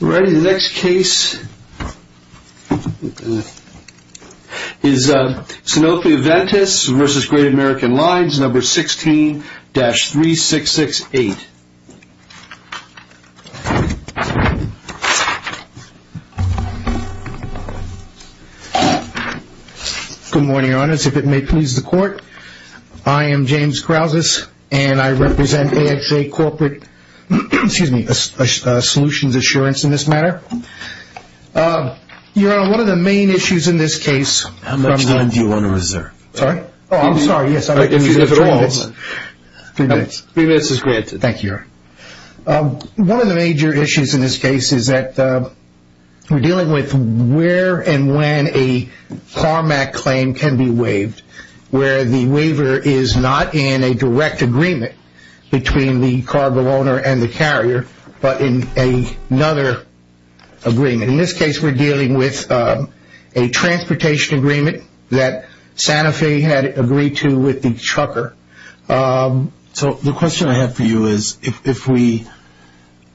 Lines, 16-3668. Good morning, your honors. If it may please the court, I am James Krausis and I represent AXA Corporate Solutions Assurance in this matter. Your honor, one of the main issues in this case... How much time do you want to reserve? Sorry? Oh, I'm sorry, yes, I'm going to give you three minutes. Three minutes is granted. Thank you, your honor. One of the major issues in this case is that we're dealing with where and when a CARMAC claim can be waived, where the waiver is not in a direct agreement between the cargo owner and the carrier, but in another agreement. In this case, we're dealing with a transportation agreement that Sanofi had agreed to with the trucker. So the question I have for you is if we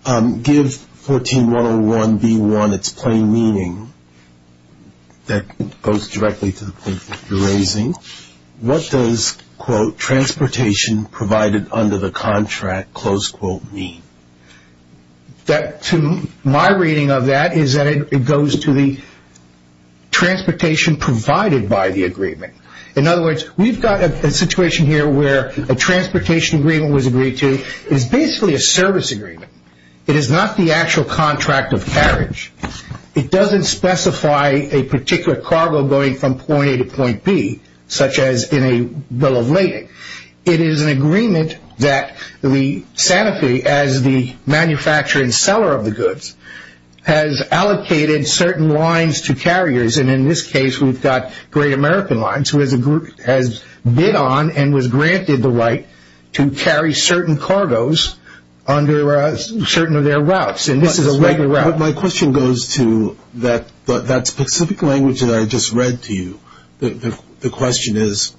give 14-101-B1 its plain meaning, that goes directly to the point that you're raising, what does, quote, transportation provided under the contract, close quote, mean? My reading of that is that it goes to the transportation provided by the agreement. In other words, we've got a situation here where a transportation agreement was agreed to. It's basically a service agreement. It is not the actual contract of carriage. It doesn't specify a particular cargo going from point A to point B, such as in a bill of lading. It is an agreement that we, Sanofi, as the manufacturer and seller of the goods, has allocated certain lines to carriers. And in this case, we've got Great American Lines, who has bid on and was granted the right to carry certain cargoes under certain of their routes. And this is a regular route. My question goes to that specific language that I just read to you. The question is,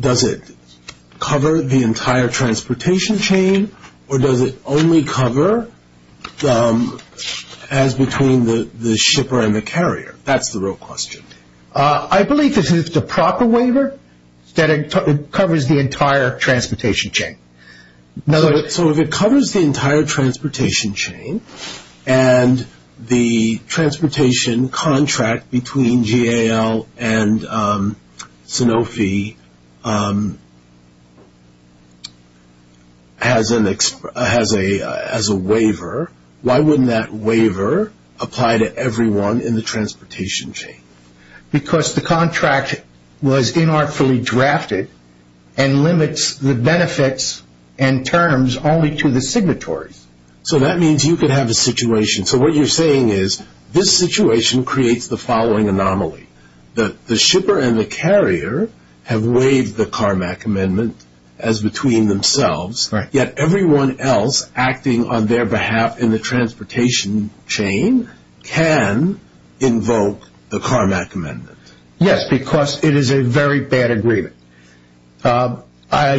does it cover the entire transportation chain, or does it only cover as between the shipper and the carrier? That's the real question. I believe that if it's a proper waiver, that it covers the entire transportation chain. So if it covers the entire transportation chain, and the transportation contract between GAL and Sanofi has a waiver, why wouldn't that waiver apply to everyone in the transportation chain? Because the contract was inartfully drafted and limits the benefits and terms only to the signatories. So that means you could have a situation. So what you're saying is, this situation creates the following anomaly. The shipper and the carrier have waived the CARMAC amendment as their behalf in the transportation chain can invoke the CARMAC amendment. Yes, because it is a very bad agreement. So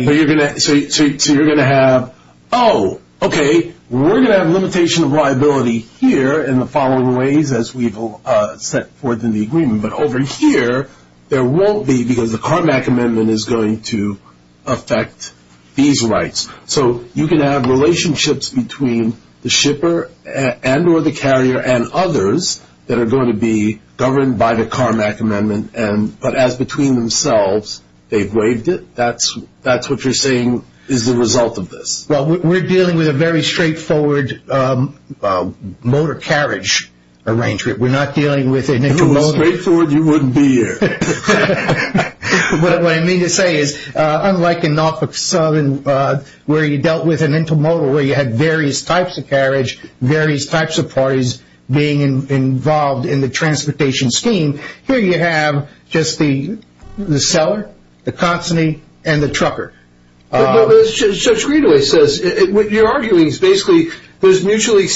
you're going to have, oh, okay, we're going to have a limitation of liability here in the following ways as we set forth in the agreement. But over here, there won't be, because the CARMAC amendment is going to affect these rights. So you can have relationships between the shipper and or the carrier and others that are going to be governed by the CARMAC amendment, but as between themselves, they've waived it. That's what you're saying is the result of this. Well, we're dealing with a very straightforward motor carriage arrangement. If it was straightforward, you wouldn't be here. What I mean to say is, unlike in Norfolk Southern, where you dealt with an intermodal where you had various types of carriage, various types of parties being involved in the transportation scheme, here you have just the seller, the consignee, and the trucker. But as Judge Greenway says, what you're arguing is basically there's mutually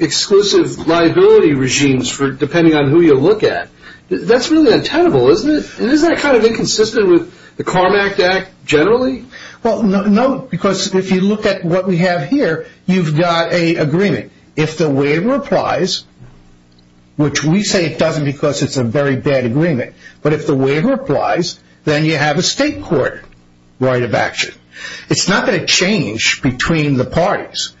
exclusive liability regimes for depending on who you look at. That's really untenable, isn't it? Isn't that kind of inconsistent with the CARMAC Act generally? Well, no, because if you look at what we have here, you've got an agreement. If the waiver applies, which we say it doesn't because it's a very bad agreement, but if the waiver applies, then you have a state court right of action. It's not going to change between the parties.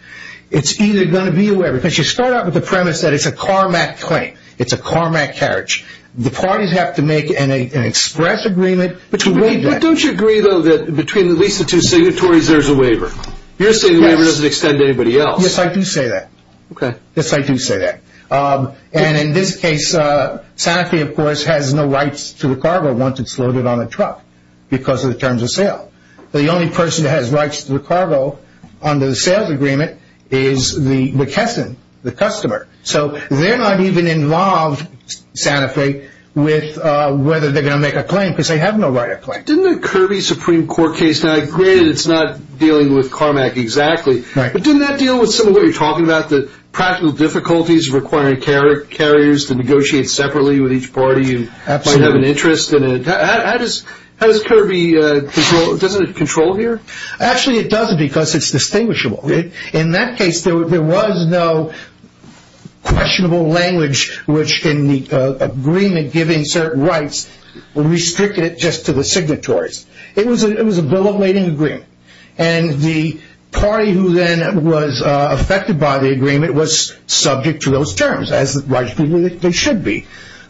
It's either going to be a waiver, because you start out with the premise that it's a CARMAC claim. It's a CARMAC carriage. The parties have to make an express agreement. But don't you agree, though, that between at least the two signatories, there's a waiver? You're saying the waiver doesn't extend to anybody else. Yes, I do say that. Okay. Yes, I do say that. And in this case, Santa Fe, of course, has no rights to the cargo once it's loaded on a truck because of the terms of sale. The only person that has rights to the cargo under the sales agreement is the customer. So they're not even involved, Santa Fe, with whether they're going to make a claim because they have no right of claim. Didn't the Kirby Supreme Court case, now granted it's not dealing with CARMAC exactly, but didn't that deal with some of what you're talking about, the practical difficulties requiring carriers to negotiate separately with each party and might have an interest in it? How does Kirby control, doesn't it control here? Actually, it doesn't because it's distinguishable. In that case, there was no questionable language, which in the agreement giving certain rights, restricted it just to the signatories. It was a bill of lading agreement. And the party who then was affected by the agreement was subject to those terms as they should be.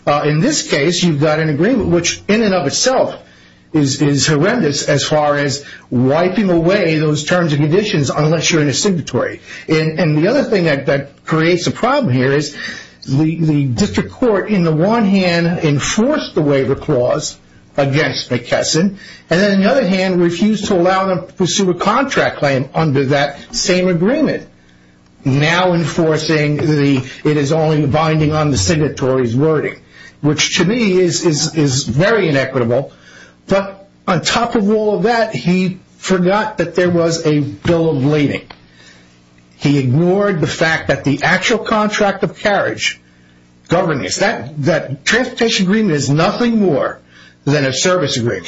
In this case, you've got an agreement which in and of itself is horrendous as far as wiping away those terms and conditions unless you're in a signatory. And the other thing that creates a problem here is the district court in the one hand enforced the waiver clause against McKesson, and then the other hand refused to allow them to pursue a contract claim under that same agreement. Now enforcing the, it is only binding on the signatory's wording, which to me is very inequitable. But on top of all of that, he forgot that there was a bill of lading. He ignored the fact that the actual contract of carriage governance, that transportation agreement is nothing more than a service agreement.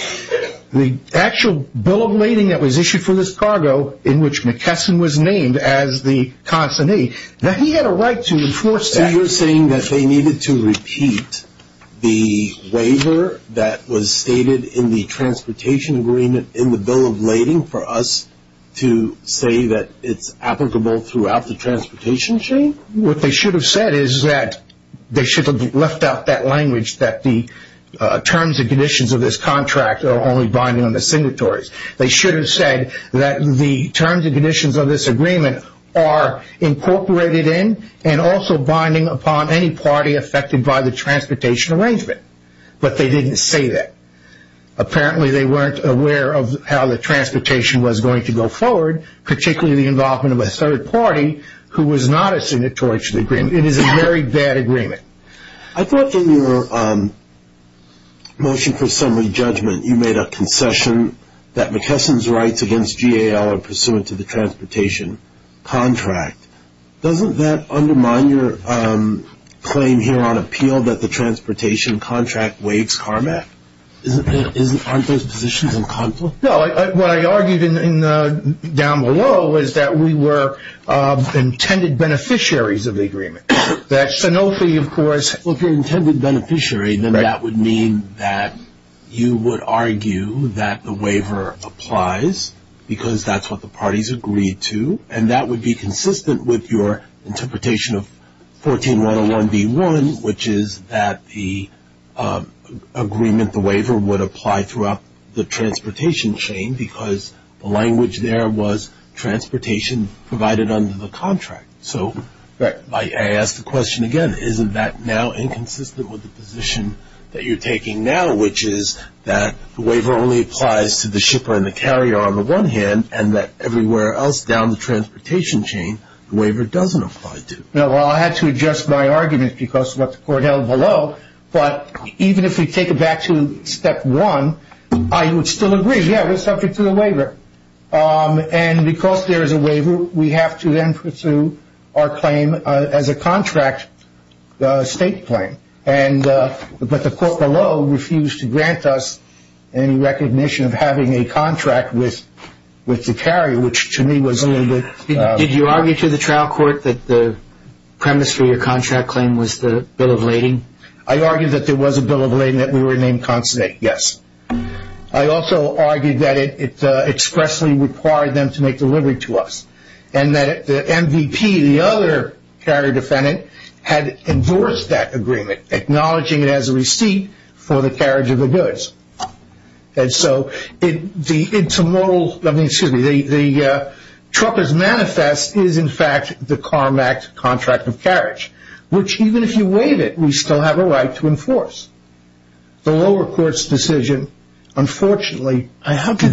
The actual bill of lading that was issued for this cargo in which McKesson was named as the consignee, that he had a right to enforce that. So you're saying that they needed to repeat the waiver that was stated in the transportation agreement in the bill of lading for us to say that it's applicable throughout the transportation chain? What they should have said is that they should have left out that language that the terms and conditions of this contract are only binding on the signatories. They should have said that the terms and conditions of this agreement are incorporated in and also binding upon any party affected by the transportation arrangement. But they didn't say that. Apparently they weren't aware of how the transportation was going to go forward, particularly the involvement of a third party who was not a signatory to the agreement. It is a very bad agreement. I thought in your motion for summary judgment, you made a concession that McKesson's rights against GAL are pursuant to the transportation contract. Doesn't that undermine your claim here on appeal that the transportation contract waives CARMAC? Aren't those positions in conflict? No. What I argued down below is that we were intended beneficiaries of the agreement. That Sanofi, of course... If you're intended beneficiary, then that would mean that you would argue that the waiver applies because that's what the parties agreed to. And that would be consistent with your 14101B1, which is that the agreement, the waiver, would apply throughout the transportation chain because the language there was transportation provided under the contract. So I ask the question again, isn't that now inconsistent with the position that you're taking now, which is that the waiver only applies to the shipper and the carrier on the one hand and that everywhere else down the transportation chain, the waiver doesn't apply to? Well, I had to adjust my argument because of what the court held below. But even if we take it back to step one, I would still agree, yeah, we're subject to the waiver. And because there is a waiver, we have to then pursue our claim as a contract state claim. But the court below refused to grant us any recognition of having a contract with the carrier, which to me was a little bit... Did you argue to the trial court that the premise for your contract claim was the bill of lading? I argued that there was a bill of lading, that we were named constant, yes. I also argued that it expressly required them to make delivery to us. And that the MVP, the other carrier defendant, had endorsed that agreement, acknowledging it as a receipt for the carriage of the goods. And so the intermodal, excuse me, the trucker's manifest is in fact the CARM Act contract of carriage, which even if you waive it, we still have a right to enforce. The lower court's decision, unfortunately... And how did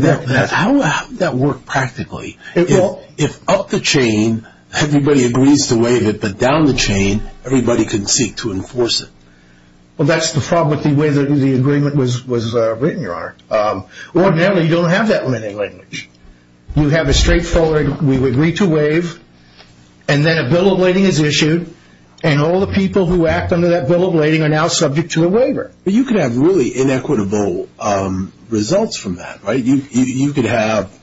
that work practically? If up the chain, everybody agrees to waive it, but down the chain, everybody can seek to enforce it? Well, that's the problem with the way the agreement was written, Your Honor. Ordinarily, you don't have that limiting language. You have a straightforward, we would agree to waive, and then a bill of lading is issued, and all the people who act under that bill of lading are now subject to a waiver. But you could have really inequitable results from that, right? You could have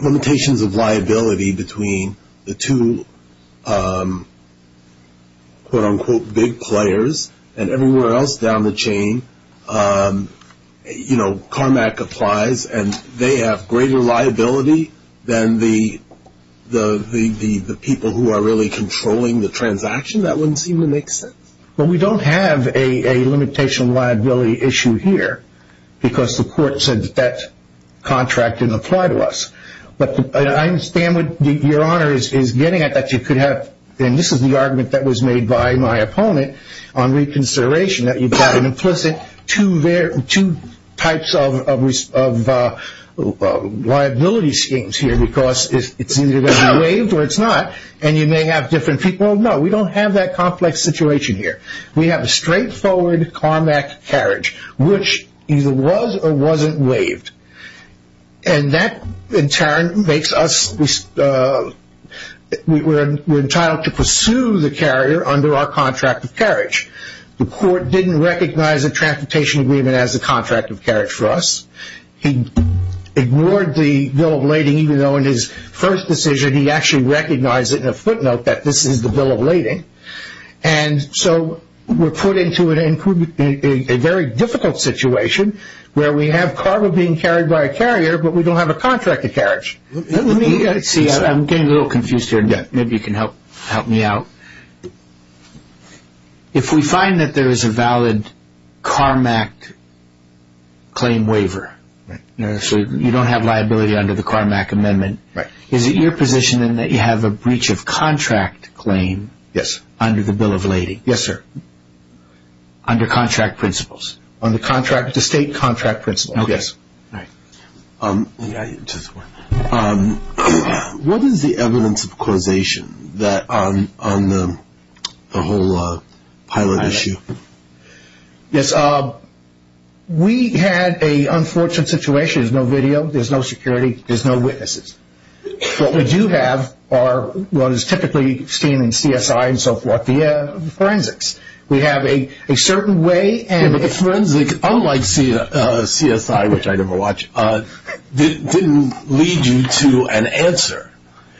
limitations of liability between the two, quote, unquote, big players, and everywhere else down the chain, you know, CARM Act applies, and they have greater liability than the people who are really controlling the transaction. That wouldn't seem to make sense. Well, we don't have a limitation of liability issue here, because the court said that that applied to us. But I understand what Your Honor is getting at, that you could have... And this is the argument that was made by my opponent on reconsideration, that you've got an implicit two types of liability schemes here, because it's either going to be waived or it's not, and you may have different people. No, we don't have that complex situation here. We have a straightforward CARM Act carriage, which either was or wasn't waived. And that in turn makes us... We're entitled to pursue the carrier under our contract of carriage. The court didn't recognize a transportation agreement as a contract of carriage for us. He ignored the bill of lading, even though in his first decision, he actually recognized it in a footnote that this is the bill of lading. And so we're put into a very difficult situation where we have cargo being carried by a carrier, but we don't have a contract of carriage. See, I'm getting a little confused here. Maybe you can help me out. If we find that there is a valid CARM Act claim waiver, so you don't have liability under the CARM Act amendment, is it your position then that you have a breach of contract claim under the contract principle? Yes. What is the evidence of causation on the whole pilot issue? Yes. We had an unfortunate situation. There's no video. There's no security. There's no witnesses. What we do have are what is typically seen in CSI and so forth, the forensics. We have a certain way. Forensic, unlike CSI, which I never watch, didn't lead you to an answer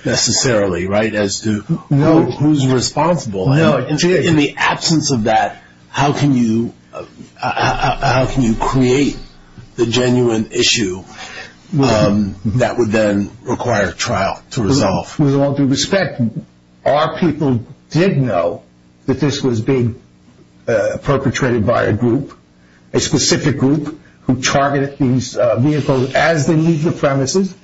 necessarily, right, as to who's responsible. In the absence of that, how can you create the genuine issue that would then require trial to resolve? With all due respect, our people did know that this was being perpetrated by a group, a specific group, who targeted these vehicles as they leave the premises.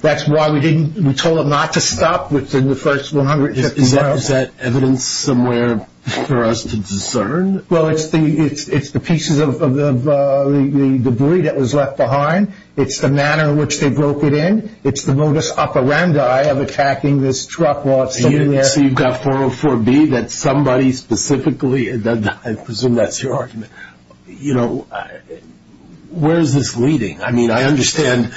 That's why we told them not to stop within the first 150 miles. Is that evidence somewhere for us to discern? Well, it's the pieces of the debris that was left behind. It's the manner in which they broke it in. It's the modus operandi of attacking this truck. So you've got 404B, that somebody specifically, I presume that's your argument. Where is this leading? I mean, I understand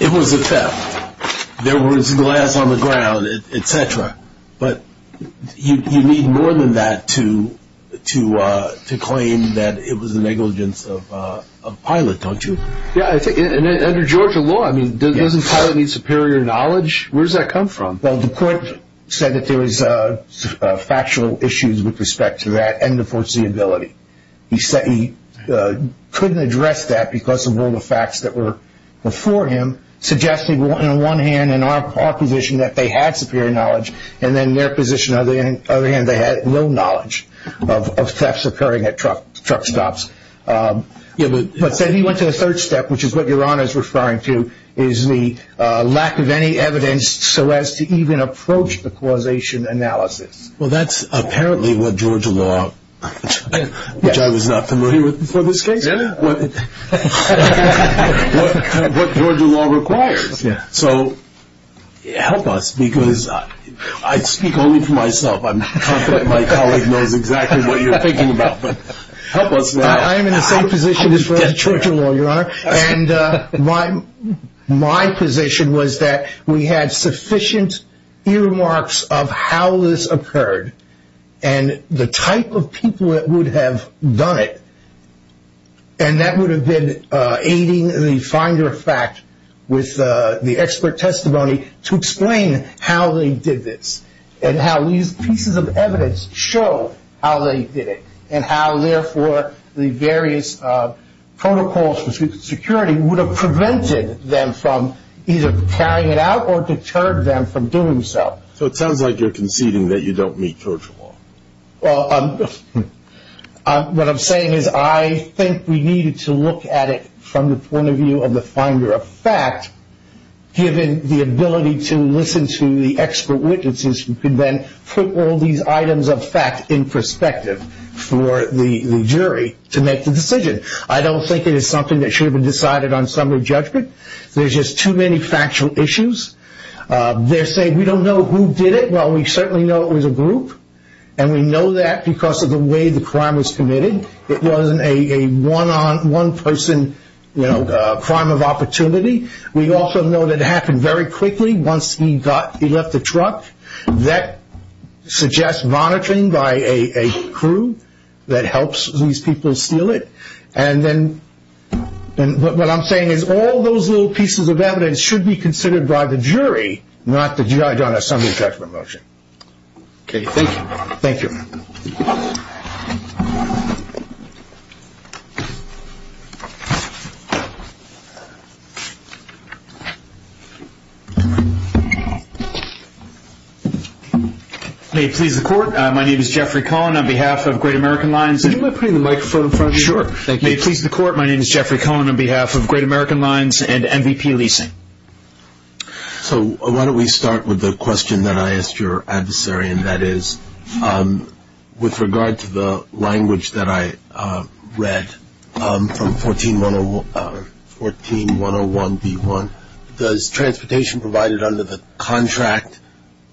it was a theft. There was glass on the ground, etc. But you need more than that to claim that it was a negligence of a pilot, don't you? Yeah, and under Georgia law, I mean, doesn't a pilot need superior knowledge? Where does that come from? Well, the court said that there was factual issues with respect to that and the foreseeability. He said he couldn't address that because of all the facts that were before him, suggesting on one hand in our position that they had superior knowledge, and then in their position, on the other hand, he said he went to the third step, which is what Your Honor is referring to, is the lack of any evidence so as to even approach the causation analysis. Well, that's apparently what Georgia law, which I was not familiar with before this case, what Georgia law requires. So help us, because I speak only for myself. I'm confident my colleague knows exactly what you're thinking about. But help us now. I am in the same position as for Georgia law, Your Honor. And my position was that we had sufficient earmarks of how this occurred and the type of people that would have done it. And that would have been aiding the finder of fact with the expert testimony to explain how they did this and how these pieces of evidence show how they did it and how therefore the various protocols for security would have prevented them from either carrying it out or deterred them from doing so. So it sounds like you're conceding that you don't meet Georgia law. Well, what I'm saying is I think we needed to look at it from the point of view of the finder of expert witnesses who could then put all these items of fact in perspective for the jury to make the decision. I don't think it is something that should have been decided on summary judgment. There's just too many factual issues. They're saying we don't know who did it. Well, we certainly know it was a group. And we know that because of the way the crime was committed. It wasn't a one-on-one person, you know, crime of opportunity. We also know that it happened very quickly once he left the truck. That suggests monitoring by a crew that helps these people steal it. And then what I'm saying is all those little pieces of evidence should be considered. May it please the court. My name is Jeffrey Cohen on behalf of Great American Lines. Am I putting the microphone in front of you? Sure. Thank you. May it please the court. My name is Jeffrey Cohen on behalf of Great American Lines and MVP Leasing. So why don't we start with the question that I asked your adversary and that is with regard to the language that I read from 14-101-B-1. Does transportation provided under the contract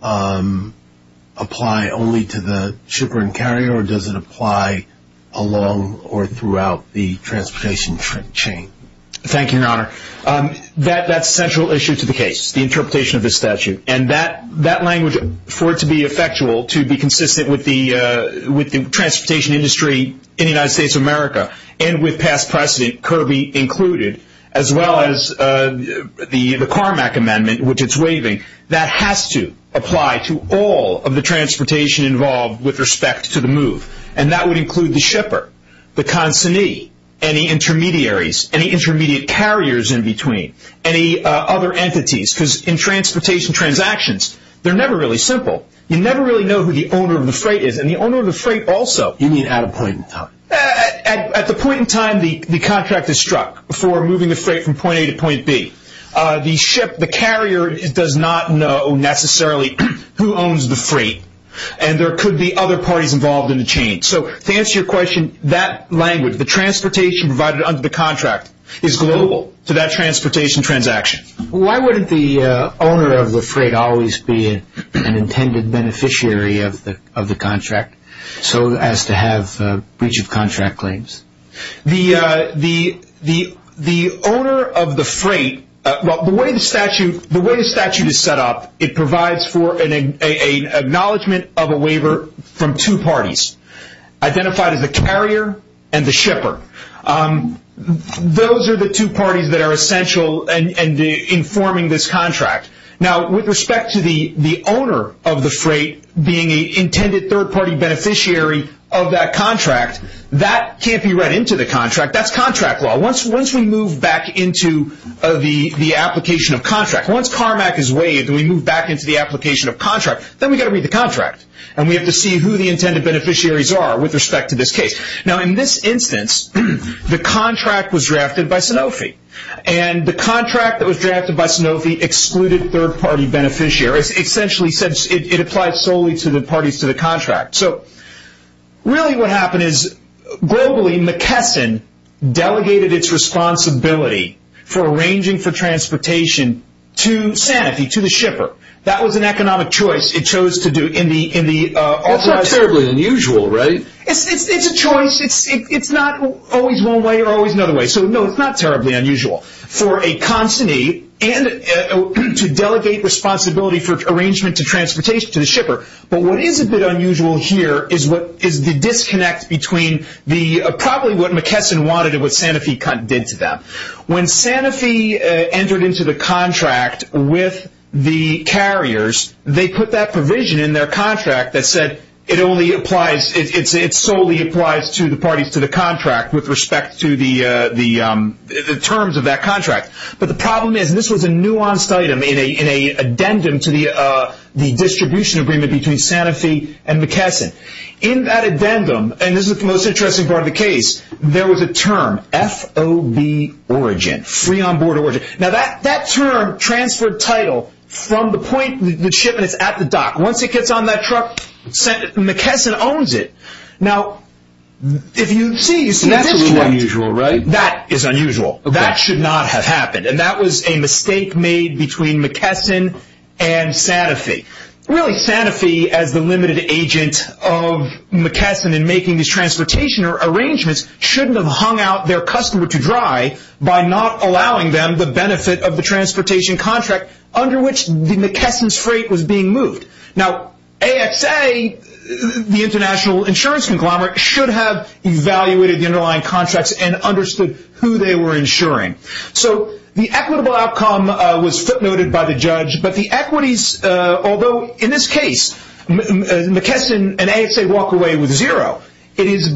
apply only to the shipper and carrier or does it apply along or throughout the transportation chain? Thank you, your honor. That's central issue to the case, the interpretation of the statute. And that language, for it to be effectual, to be consistent with the transportation industry in the United States of America and with past precedent, Kirby included, as well as the Carmack amendment, which it's waiving, that has to apply to all of the transportation involved with respect to the move. And that would include the shipper, the consignee, any intermediaries, any intermediate carriers in transportation transactions. They're never really simple. You never really know who the owner of the freight is and the owner of the freight also. You mean at a point in time? At the point in time, the contract is struck for moving the freight from point A to point B. The ship, the carrier does not know necessarily who owns the freight and there could be other parties involved in the chain. So to answer your question, that language, the transportation provided under the contract is global to that transportation transaction. Why wouldn't the owner of the freight always be an intended beneficiary of the contract so as to have breach of contract claims? The owner of the freight, the way the statute is set up, it provides for an acknowledgement of a waiver from two parties, identified as the carrier and the shipper. Those are the two parties that are essential in forming this contract. Now, with respect to the owner of the freight being an intended third-party beneficiary of that contract, that can't be read into the contract. That's contract law. Once we move back into the application of contract, once Carmack is and we have to see who the intended beneficiaries are with respect to this case. Now, in this instance, the contract was drafted by Sanofi and the contract that was drafted by Sanofi excluded third-party beneficiaries. Essentially, it applies solely to the parties to the contract. So really what happened is globally, McKesson delegated its responsibility for arranging for transportation to Sanofi, to the shipper. That was an economic choice. It's not terribly unusual, right? It's a choice. It's not always one way or always another way. So no, it's not terribly unusual for a consignee to delegate responsibility for arrangement to transportation to the shipper. But what is a bit unusual here is the disconnect between probably what McKesson wanted and what Sanofi did to them. When Sanofi entered into the provision in their contract that said it solely applies to the parties to the contract with respect to the terms of that contract. But the problem is, and this was a nuanced item in an addendum to the distribution agreement between Sanofi and McKesson. In that addendum, and this is the most interesting part of the case, there was a term, FOB origin, free on board origin. Now that term transferred title from the point the shipment is at the dock. Once it gets on that truck, McKesson owns it. Now, if you see, that's a little unusual, right? That is unusual. That should not have happened. And that was a mistake made between McKesson and Sanofi. Really, Sanofi as the limited agent of McKesson in making these transportation arrangements shouldn't have hung out their customer to dry by not allowing them the benefit of the transportation contract under which McKesson's freight was being moved. Now, AXA, the international insurance conglomerate, should have evaluated the underlying contracts and understood who they were insuring. So the equitable outcome was footnoted by the judge, but the equities, although in this case, McKesson and with zero, it's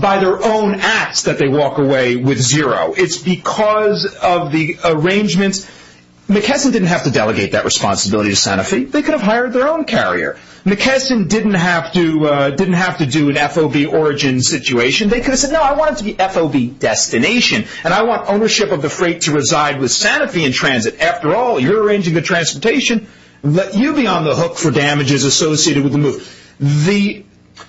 because of the arrangements. McKesson didn't have to delegate that responsibility to Sanofi. They could have hired their own carrier. McKesson didn't have to do an FOB origin situation. They could have said, no, I want it to be FOB destination, and I want ownership of the freight to reside with Sanofi in transit. After all, you're arranging the transportation. Let you be on the hook for damages associated with the move.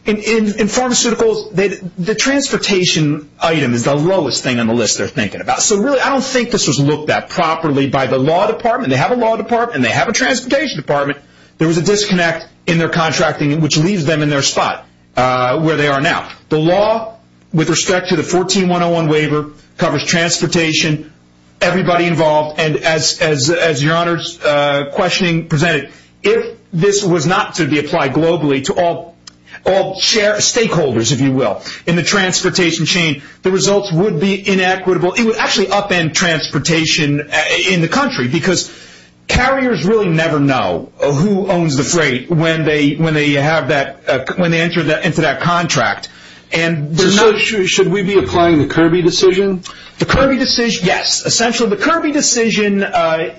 In pharmaceuticals, the transportation item is the lowest thing on the list they're thinking about. So really, I don't think this was looked at properly by the law department. They have a law department, and they have a transportation department. There was a disconnect in their contracting, which leaves them in their spot where they are now. The law, with respect to the 14-101 waiver, covers transportation, everybody involved, and as your honor's questioning presented, if this was not to be applied globally to all stakeholders, if you will, in the transportation chain, the results would be inequitable. It would actually upend transportation in the country, because carriers really never know who owns the freight when they enter into that contract. Should we be applying the Kirby decision? The Kirby decision, yes. Essentially, the Kirby decision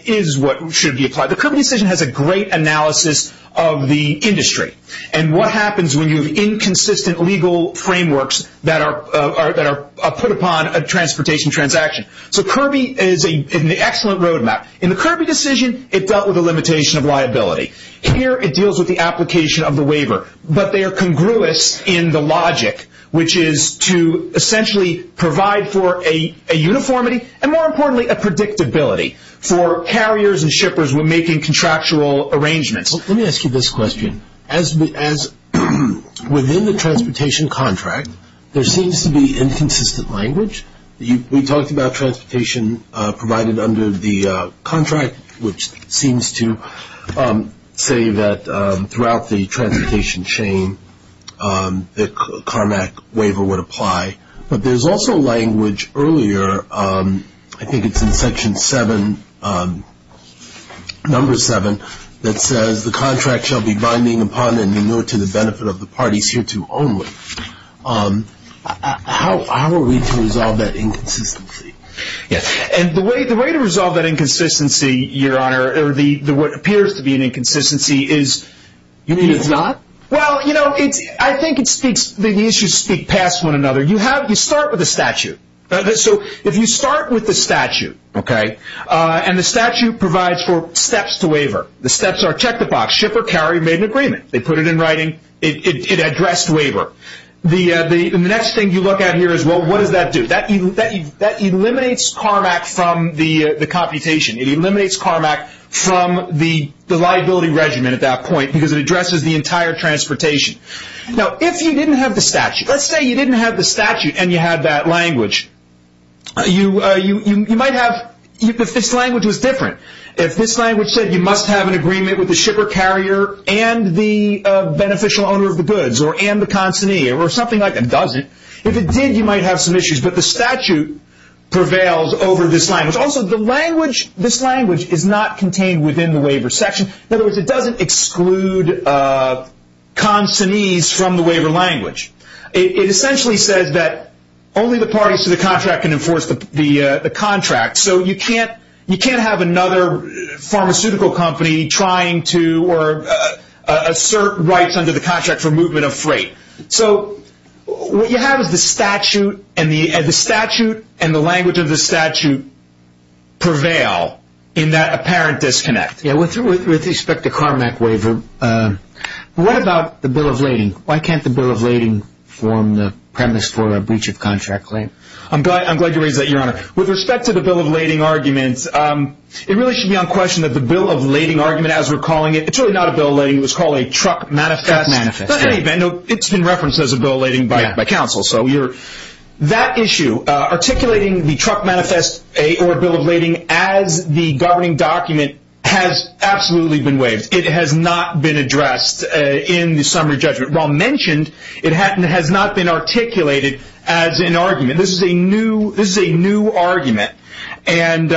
is what should be applied. The Kirby decision has a great analysis of the industry, and what happens when you have inconsistent legal frameworks that are put upon a transportation transaction. So Kirby is an excellent roadmap. In the Kirby decision, it dealt with a limitation of liability. Here, it deals with the application of the waiver, but they are congruous in the logic, which is to essentially provide for a uniformity, and more importantly, a predictability for carriers and shippers when making contractual arrangements. Let me ask you this question. Within the transportation contract, there seems to be inconsistent language. We talked about transportation provided under the contract, which seems to say that throughout the transportation chain, the CARMAC waiver would contract shall be binding upon and in order to the benefit of the parties hereto only. How are we to resolve that inconsistency? Yes. The way to resolve that inconsistency, Your Honor, or what appears to be an inconsistency is... You mean it's not? Well, I think the issues speak past one another. You start with a statute. If you start with the statute, and the statute provides for steps to waiver, the steps are check the box, shipper, carrier made an agreement. They put it in writing. It addressed waiver. The next thing you look at here is, well, what does that do? That eliminates CARMAC from the computation. It eliminates CARMAC from the liability regimen at that point, because it addresses the entire transportation. Now, if you didn't have the statute, let's say you didn't have the statute, and you had that language, you might have... If this language was different, if this language said you must have an agreement with the shipper, carrier, and the beneficial owner of the goods, or and the consignee, or something like that, it doesn't. If it did, you might have some issues, but the statute prevails over this language. Also, this language is not contained within the waiver section. In other words, it doesn't exclude consignees from the waiver language. It essentially says that only the parties to the contract can enforce the contract, so you can't have another pharmaceutical company trying to assert rights under the contract for movement of freight. What you have is the statute, and the statute, and the language of the statute prevail in that apparent disconnect. Yeah, with respect to CARMAC waiver, what about the bill of lading? Why can't the bill of lading form the premise for a breach of contract claim? I'm glad you raised that, Your Honor. With respect to the bill of lading argument, it really should be on question that the bill of lading argument, as we're calling it, it's really not a bill of lading. It was called a truck manifest. It's been referenced as a bill of lading by counsel, so that issue, articulating the truck manifest or bill of lading as the governing document has absolutely been waived. It has not been addressed in the summary judgment. While mentioned, it has not been articulated as an argument. This is a new argument, and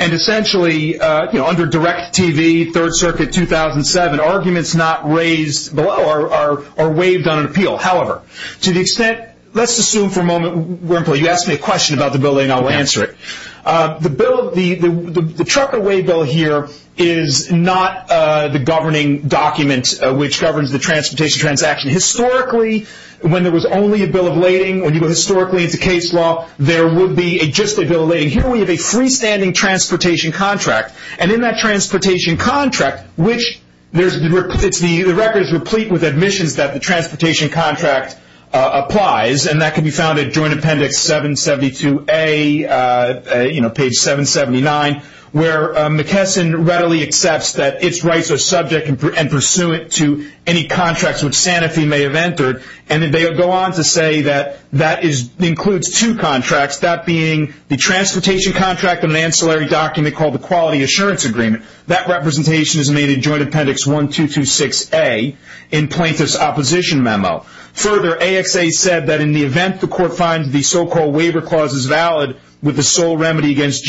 essentially under Direct TV, Third Circuit, 2007, arguments not raised below are waived on an appeal. However, to the extent, let's assume for a moment, you ask me a question about the bill of lading, I'll answer it. The truck away bill here is not the governing document which governs the transportation transaction. Historically, when there was only a bill of lading, when you go historically into case law, there would be just a bill of lading. Here we have a freestanding transportation contract, and in that transportation contract, which the record is replete with admissions that the transportation contract applies, and that can be found at Joint Appendix 772A, page 779, where McKesson readily accepts that its rights are subject and pursuant to any contracts which Sanofi may have entered, and they go on to say that that includes two contracts, that being the transportation contract and an ancillary document called the Quality Assurance Agreement. That representation is made in Joint Appendix 1226A in plaintiff's opposition memo. Further, AXA said that in the event the court finds the so-called waiver clause is valid, with the sole remedy against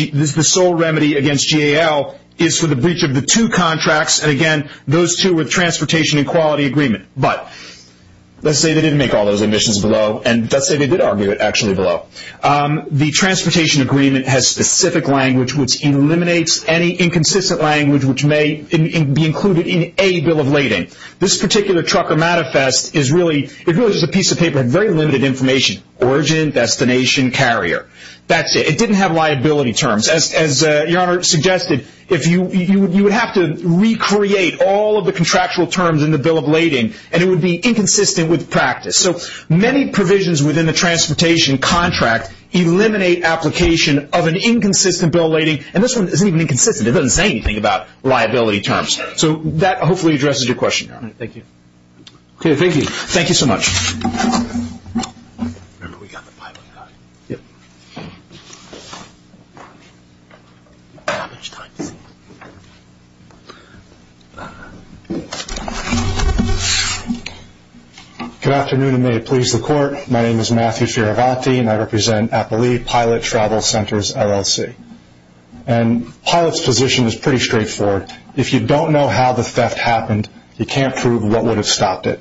GAL, is for the breach of the two contracts, and again, those two with transportation and quality agreement. But, let's say they didn't make all those admissions below, and let's say they did argue it actually below. The transportation agreement has specific language which eliminates any inconsistent language which may be included in a bill of lading. This particular trucker manifest is really, it really is a piece of paper with very limited information. Origin, destination, carrier. That's it. It didn't have liability terms. As Your Honor suggested, you would have to recreate all of the contractual terms in the bill of lading, and it would be inconsistent with practice. So, many provisions within the transportation contract eliminate application of an inconsistent bill of lading, and this one isn't even inconsistent. It doesn't say anything about liability terms. So, that hopefully addresses your question, Your Honor. Thank you. Okay, thank you. Thank you so much. Good afternoon, and may it please the court. My name is Matthew Fioravanti, and I represent Appali Pilot Travel Centers, LLC. Pilot's position is pretty straightforward. If you don't know how the theft happened, you can't prove what would have stopped it.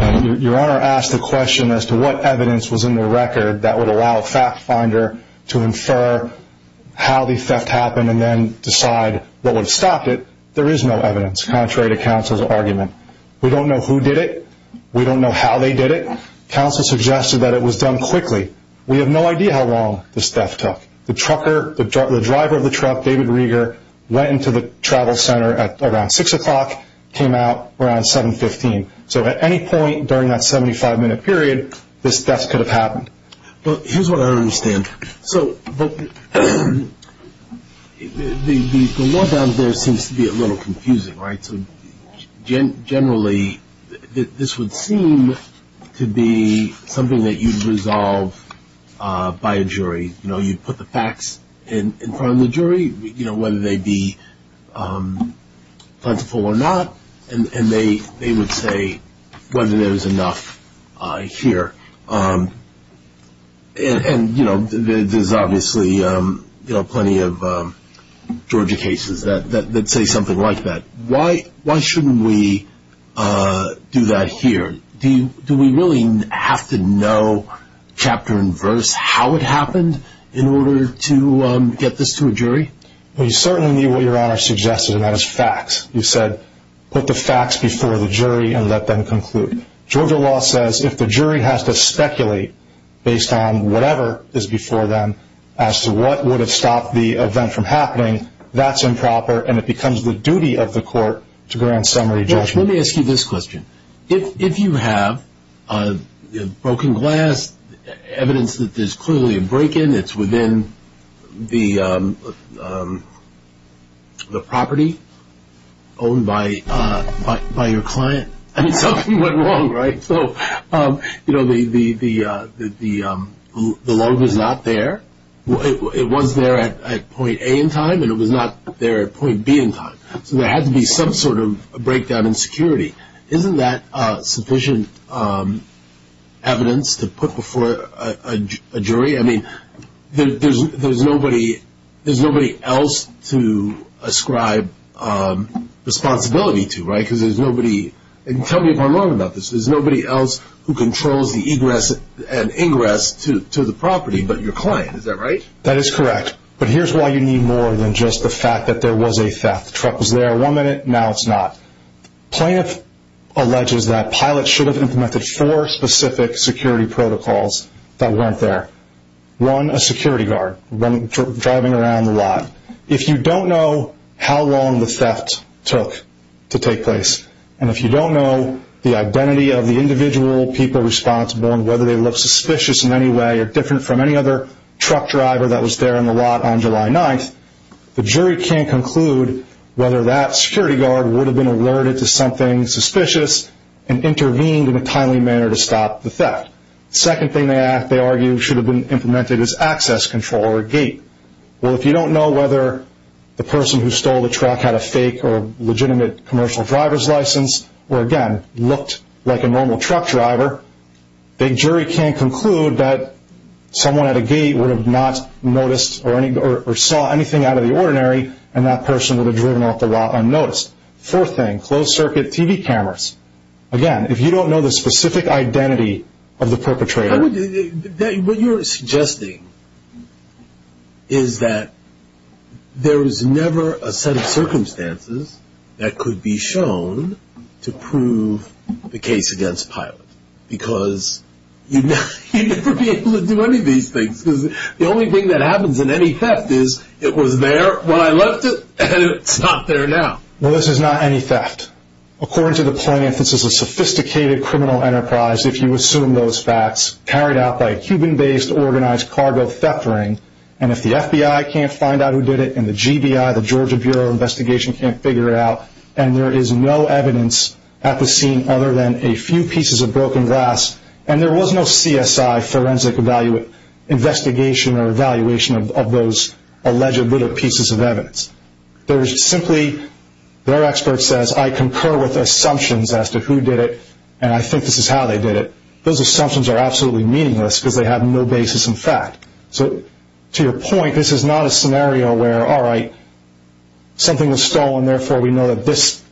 Your Honor asked the question as to what evidence was in the record that would allow a fact finder to infer how the theft happened and then decide what would have stopped it. There is no evidence, contrary to counsel's argument. We don't know who did it. We don't know how they did it. Counsel suggested that it was done quickly. We have no idea how long this theft took. The trucker, the driver of the truck, David Rieger, went into the travel center at around 6 o'clock, came out around 7.15. So, at any point during that 75 minute period, this theft could have happened. Here's what I don't understand. So, the law down there seems to be a little confusing, right? So, generally, this would seem to be something that you'd resolve by a jury. You know, you'd put the facts in front of the jury, you know, whether they'd be plentiful or not, and they would say whether there was enough here. And, you know, there's obviously, you know, plenty of Georgia that say something like that. Why shouldn't we do that here? Do we really have to know chapter and verse how it happened in order to get this to a jury? Well, you certainly need what your Honor suggested, and that is facts. You said, put the facts before the jury and let them conclude. Georgia law says if the jury has to speculate based on whatever is before them as to what would have stopped the event from happening, that's improper, and it becomes the duty of the court to grant summary judgment. Let me ask you this question. If you have broken glass, evidence that there's clearly a break-in, it's within the property owned by your client. I mean, something went wrong, right? So, you know, the loan was not there. It was there at point A in time, and it was not there at point B in time. So there had to be some sort of breakdown in security. Isn't that sufficient evidence to put before a jury? I mean, there's nobody else to ascribe responsibility to, right? Because there's nobody, and tell me if I'm wrong about this, there's nobody else who controls the egress and ingress to the property but your client. Is that right? That is correct. But here's why you need more than just the fact that there was a theft. Truck was there one minute, now it's not. Plaintiff alleges that pilots should have implemented four specific security protocols that weren't there. One, a security guard driving around the lot. If you don't know how long the theft took to take place, and if you don't know the identity of the individual people responsible and whether they look suspicious in any way or different from any other truck driver that was there in the lot on July 9th, the jury can't conclude whether that security guard would have been alerted to something suspicious and intervened in a timely manner to stop the theft. Second thing they argue should have been implemented is access control or a gate. Well, if you don't know whether the person who stole the truck had a fake or legitimate commercial driver's license or again looked like a normal truck driver, the jury can't conclude that someone at a gate would have not noticed or saw anything out of the ordinary and that person would have driven off the lot unnoticed. Fourth thing, closed circuit TV cameras. Again, if you don't know the specific identity of the perpetrator... What you're suggesting is that there is never a set of circumstances that could be shown to prove the case against pilot because you'd never be able to do any of these things because the only thing that happens in any theft is it was there when I left it and it's not there now. Well, this is not any theft. According to the plaintiff, this is a sophisticated criminal enterprise if you assume those facts carried out by a Cuban-based organized cargo theft ring and if the FBI can't find out who did it and the GBI, the Georgia Bureau of Investigation, can't figure it out and there is no evidence at the scene other than a few pieces of broken glass and there was no CSI forensic investigation or evaluation of those alleged little pieces of evidence. There is simply, their expert says, I concur with assumptions as to who did it and I think this is how they did it. Those assumptions are absolutely meaningless because they have no basis in fact. So, to your point, this is not a scenario where, alright, something was stolen therefore we know that this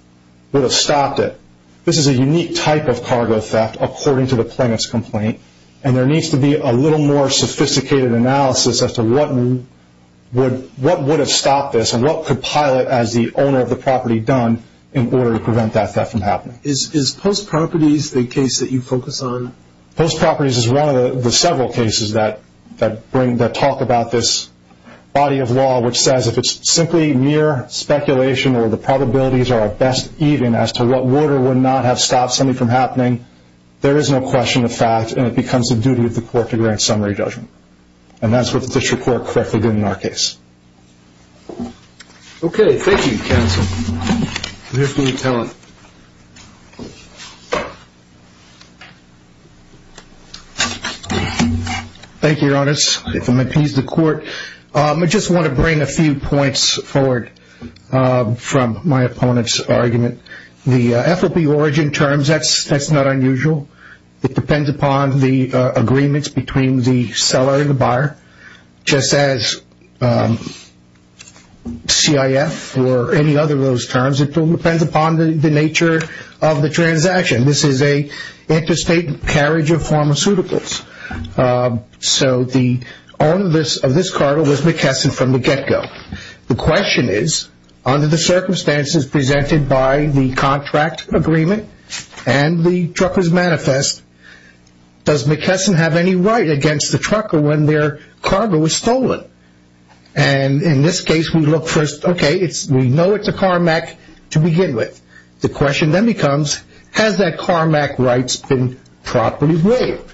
would have stopped it. This is a unique type of cargo theft according to the plaintiff's complaint and there needs to be a little more sophisticated analysis as to what would have stopped this and what could pilot as the owner of the property done in order to prevent that theft from happening. Is Post Properties the case that you focus on? Post Properties is one of the several cases that talk about this body of law which says if it's simply mere speculation or the probabilities are best even as to what order would not have stopped something from happening, there is no question of fact and it becomes a duty of the court to grant summary judgment and that's what the district court correctly did in our case. Okay, thank you counsel. Here's to your talent. Thank you, your honor. I just want to bring a few points forward from my opponent's argument. The FOB origin terms, that's not unusual. It depends upon the agreements between the seller and the buyer just as CIF or any other of those terms. It depends upon the nature of the transaction. This is an interstate carriage of pharmaceuticals. So the owner of this cargo was McKesson from the get-go. The question is under the circumstances presented by the contract agreement and the right against the trucker when their cargo was stolen. And in this case we look first, okay, we know it's a Carmack to begin with. The question then becomes has that Carmack rights been properly waived?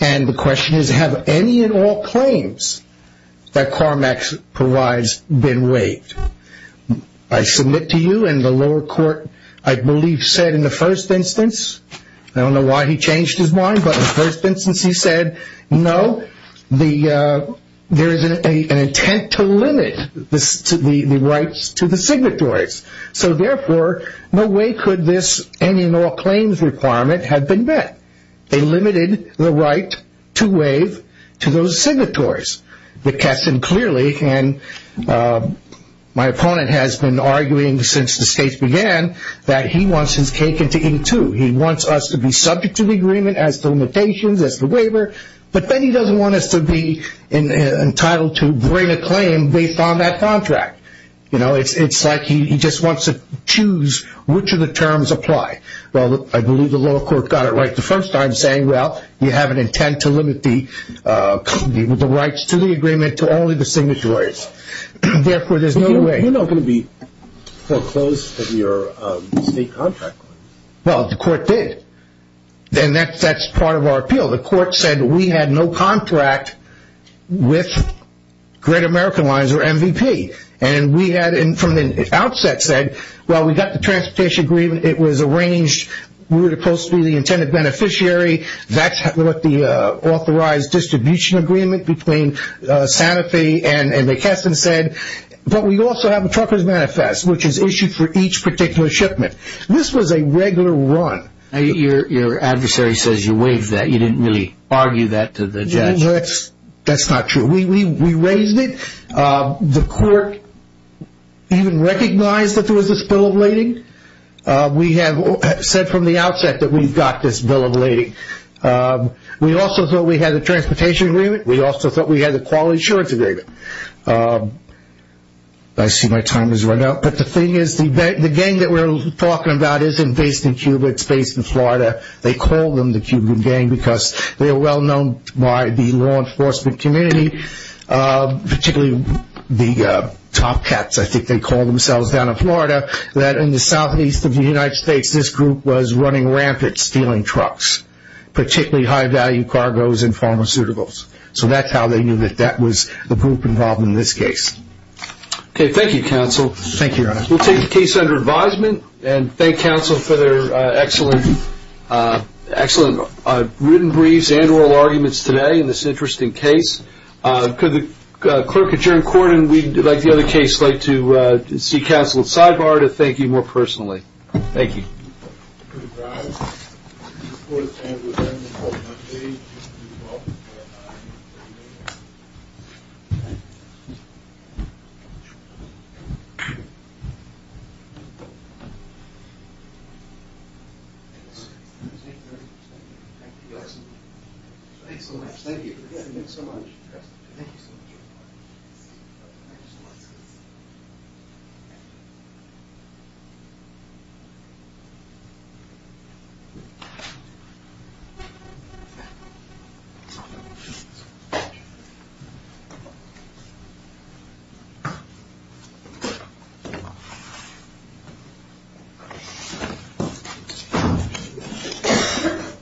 And the question is have any and all claims that Carmack provides been waived? I submit to you and the lower court I believe said in the first instance, I don't know why he said no, there is an intent to limit the rights to the signatories. So therefore, no way could this any and all claims requirement have been met. They limited the right to waive to those signatories. McKesson clearly, and my opponent has been arguing since the case began, that he wants his cake as the limitations, as the waiver, but then he doesn't want us to be entitled to bring a claim based on that contract. You know, it's like he just wants to choose which of the terms apply. Well, I believe the lower court got it right the first time saying, well, you have an intent to limit the rights to the agreement to only the signatories. Therefore, there's no way. You're not going to be foreclosed with your state contract. Well, the court did. And that's part of our appeal. The court said we had no contract with Great American Lines or MVP. And we had from the outset said, well, we got the transportation agreement. It was arranged. We were supposed to be the intended beneficiary. That's what the manifest, which is issued for each particular shipment. This was a regular run. Your adversary says you waived that. You didn't really argue that to the judge. That's not true. We raised it. The court even recognized that there was a spill of lading. We have said from the outset that we've got this bill of lading. We also thought we had the transportation agreement. We also thought we had the insurance agreement. I see my time has run out. But the thing is, the gang that we're talking about isn't based in Cuba. It's based in Florida. They call them the Cuban gang because they are well-known by the law enforcement community, particularly the top cats, I think they call themselves down in Florida, that in the southeast of the United States, this group was running rampant, stealing trucks, particularly high-value cargoes and pharmaceuticals. So that's how they knew that that was the group involved in this case. Okay. Thank you, counsel. Thank you, your honor. We'll take the case under advisement and thank counsel for their excellent written briefs and oral arguments today in this interesting case. Could the clerk at the bench please stand?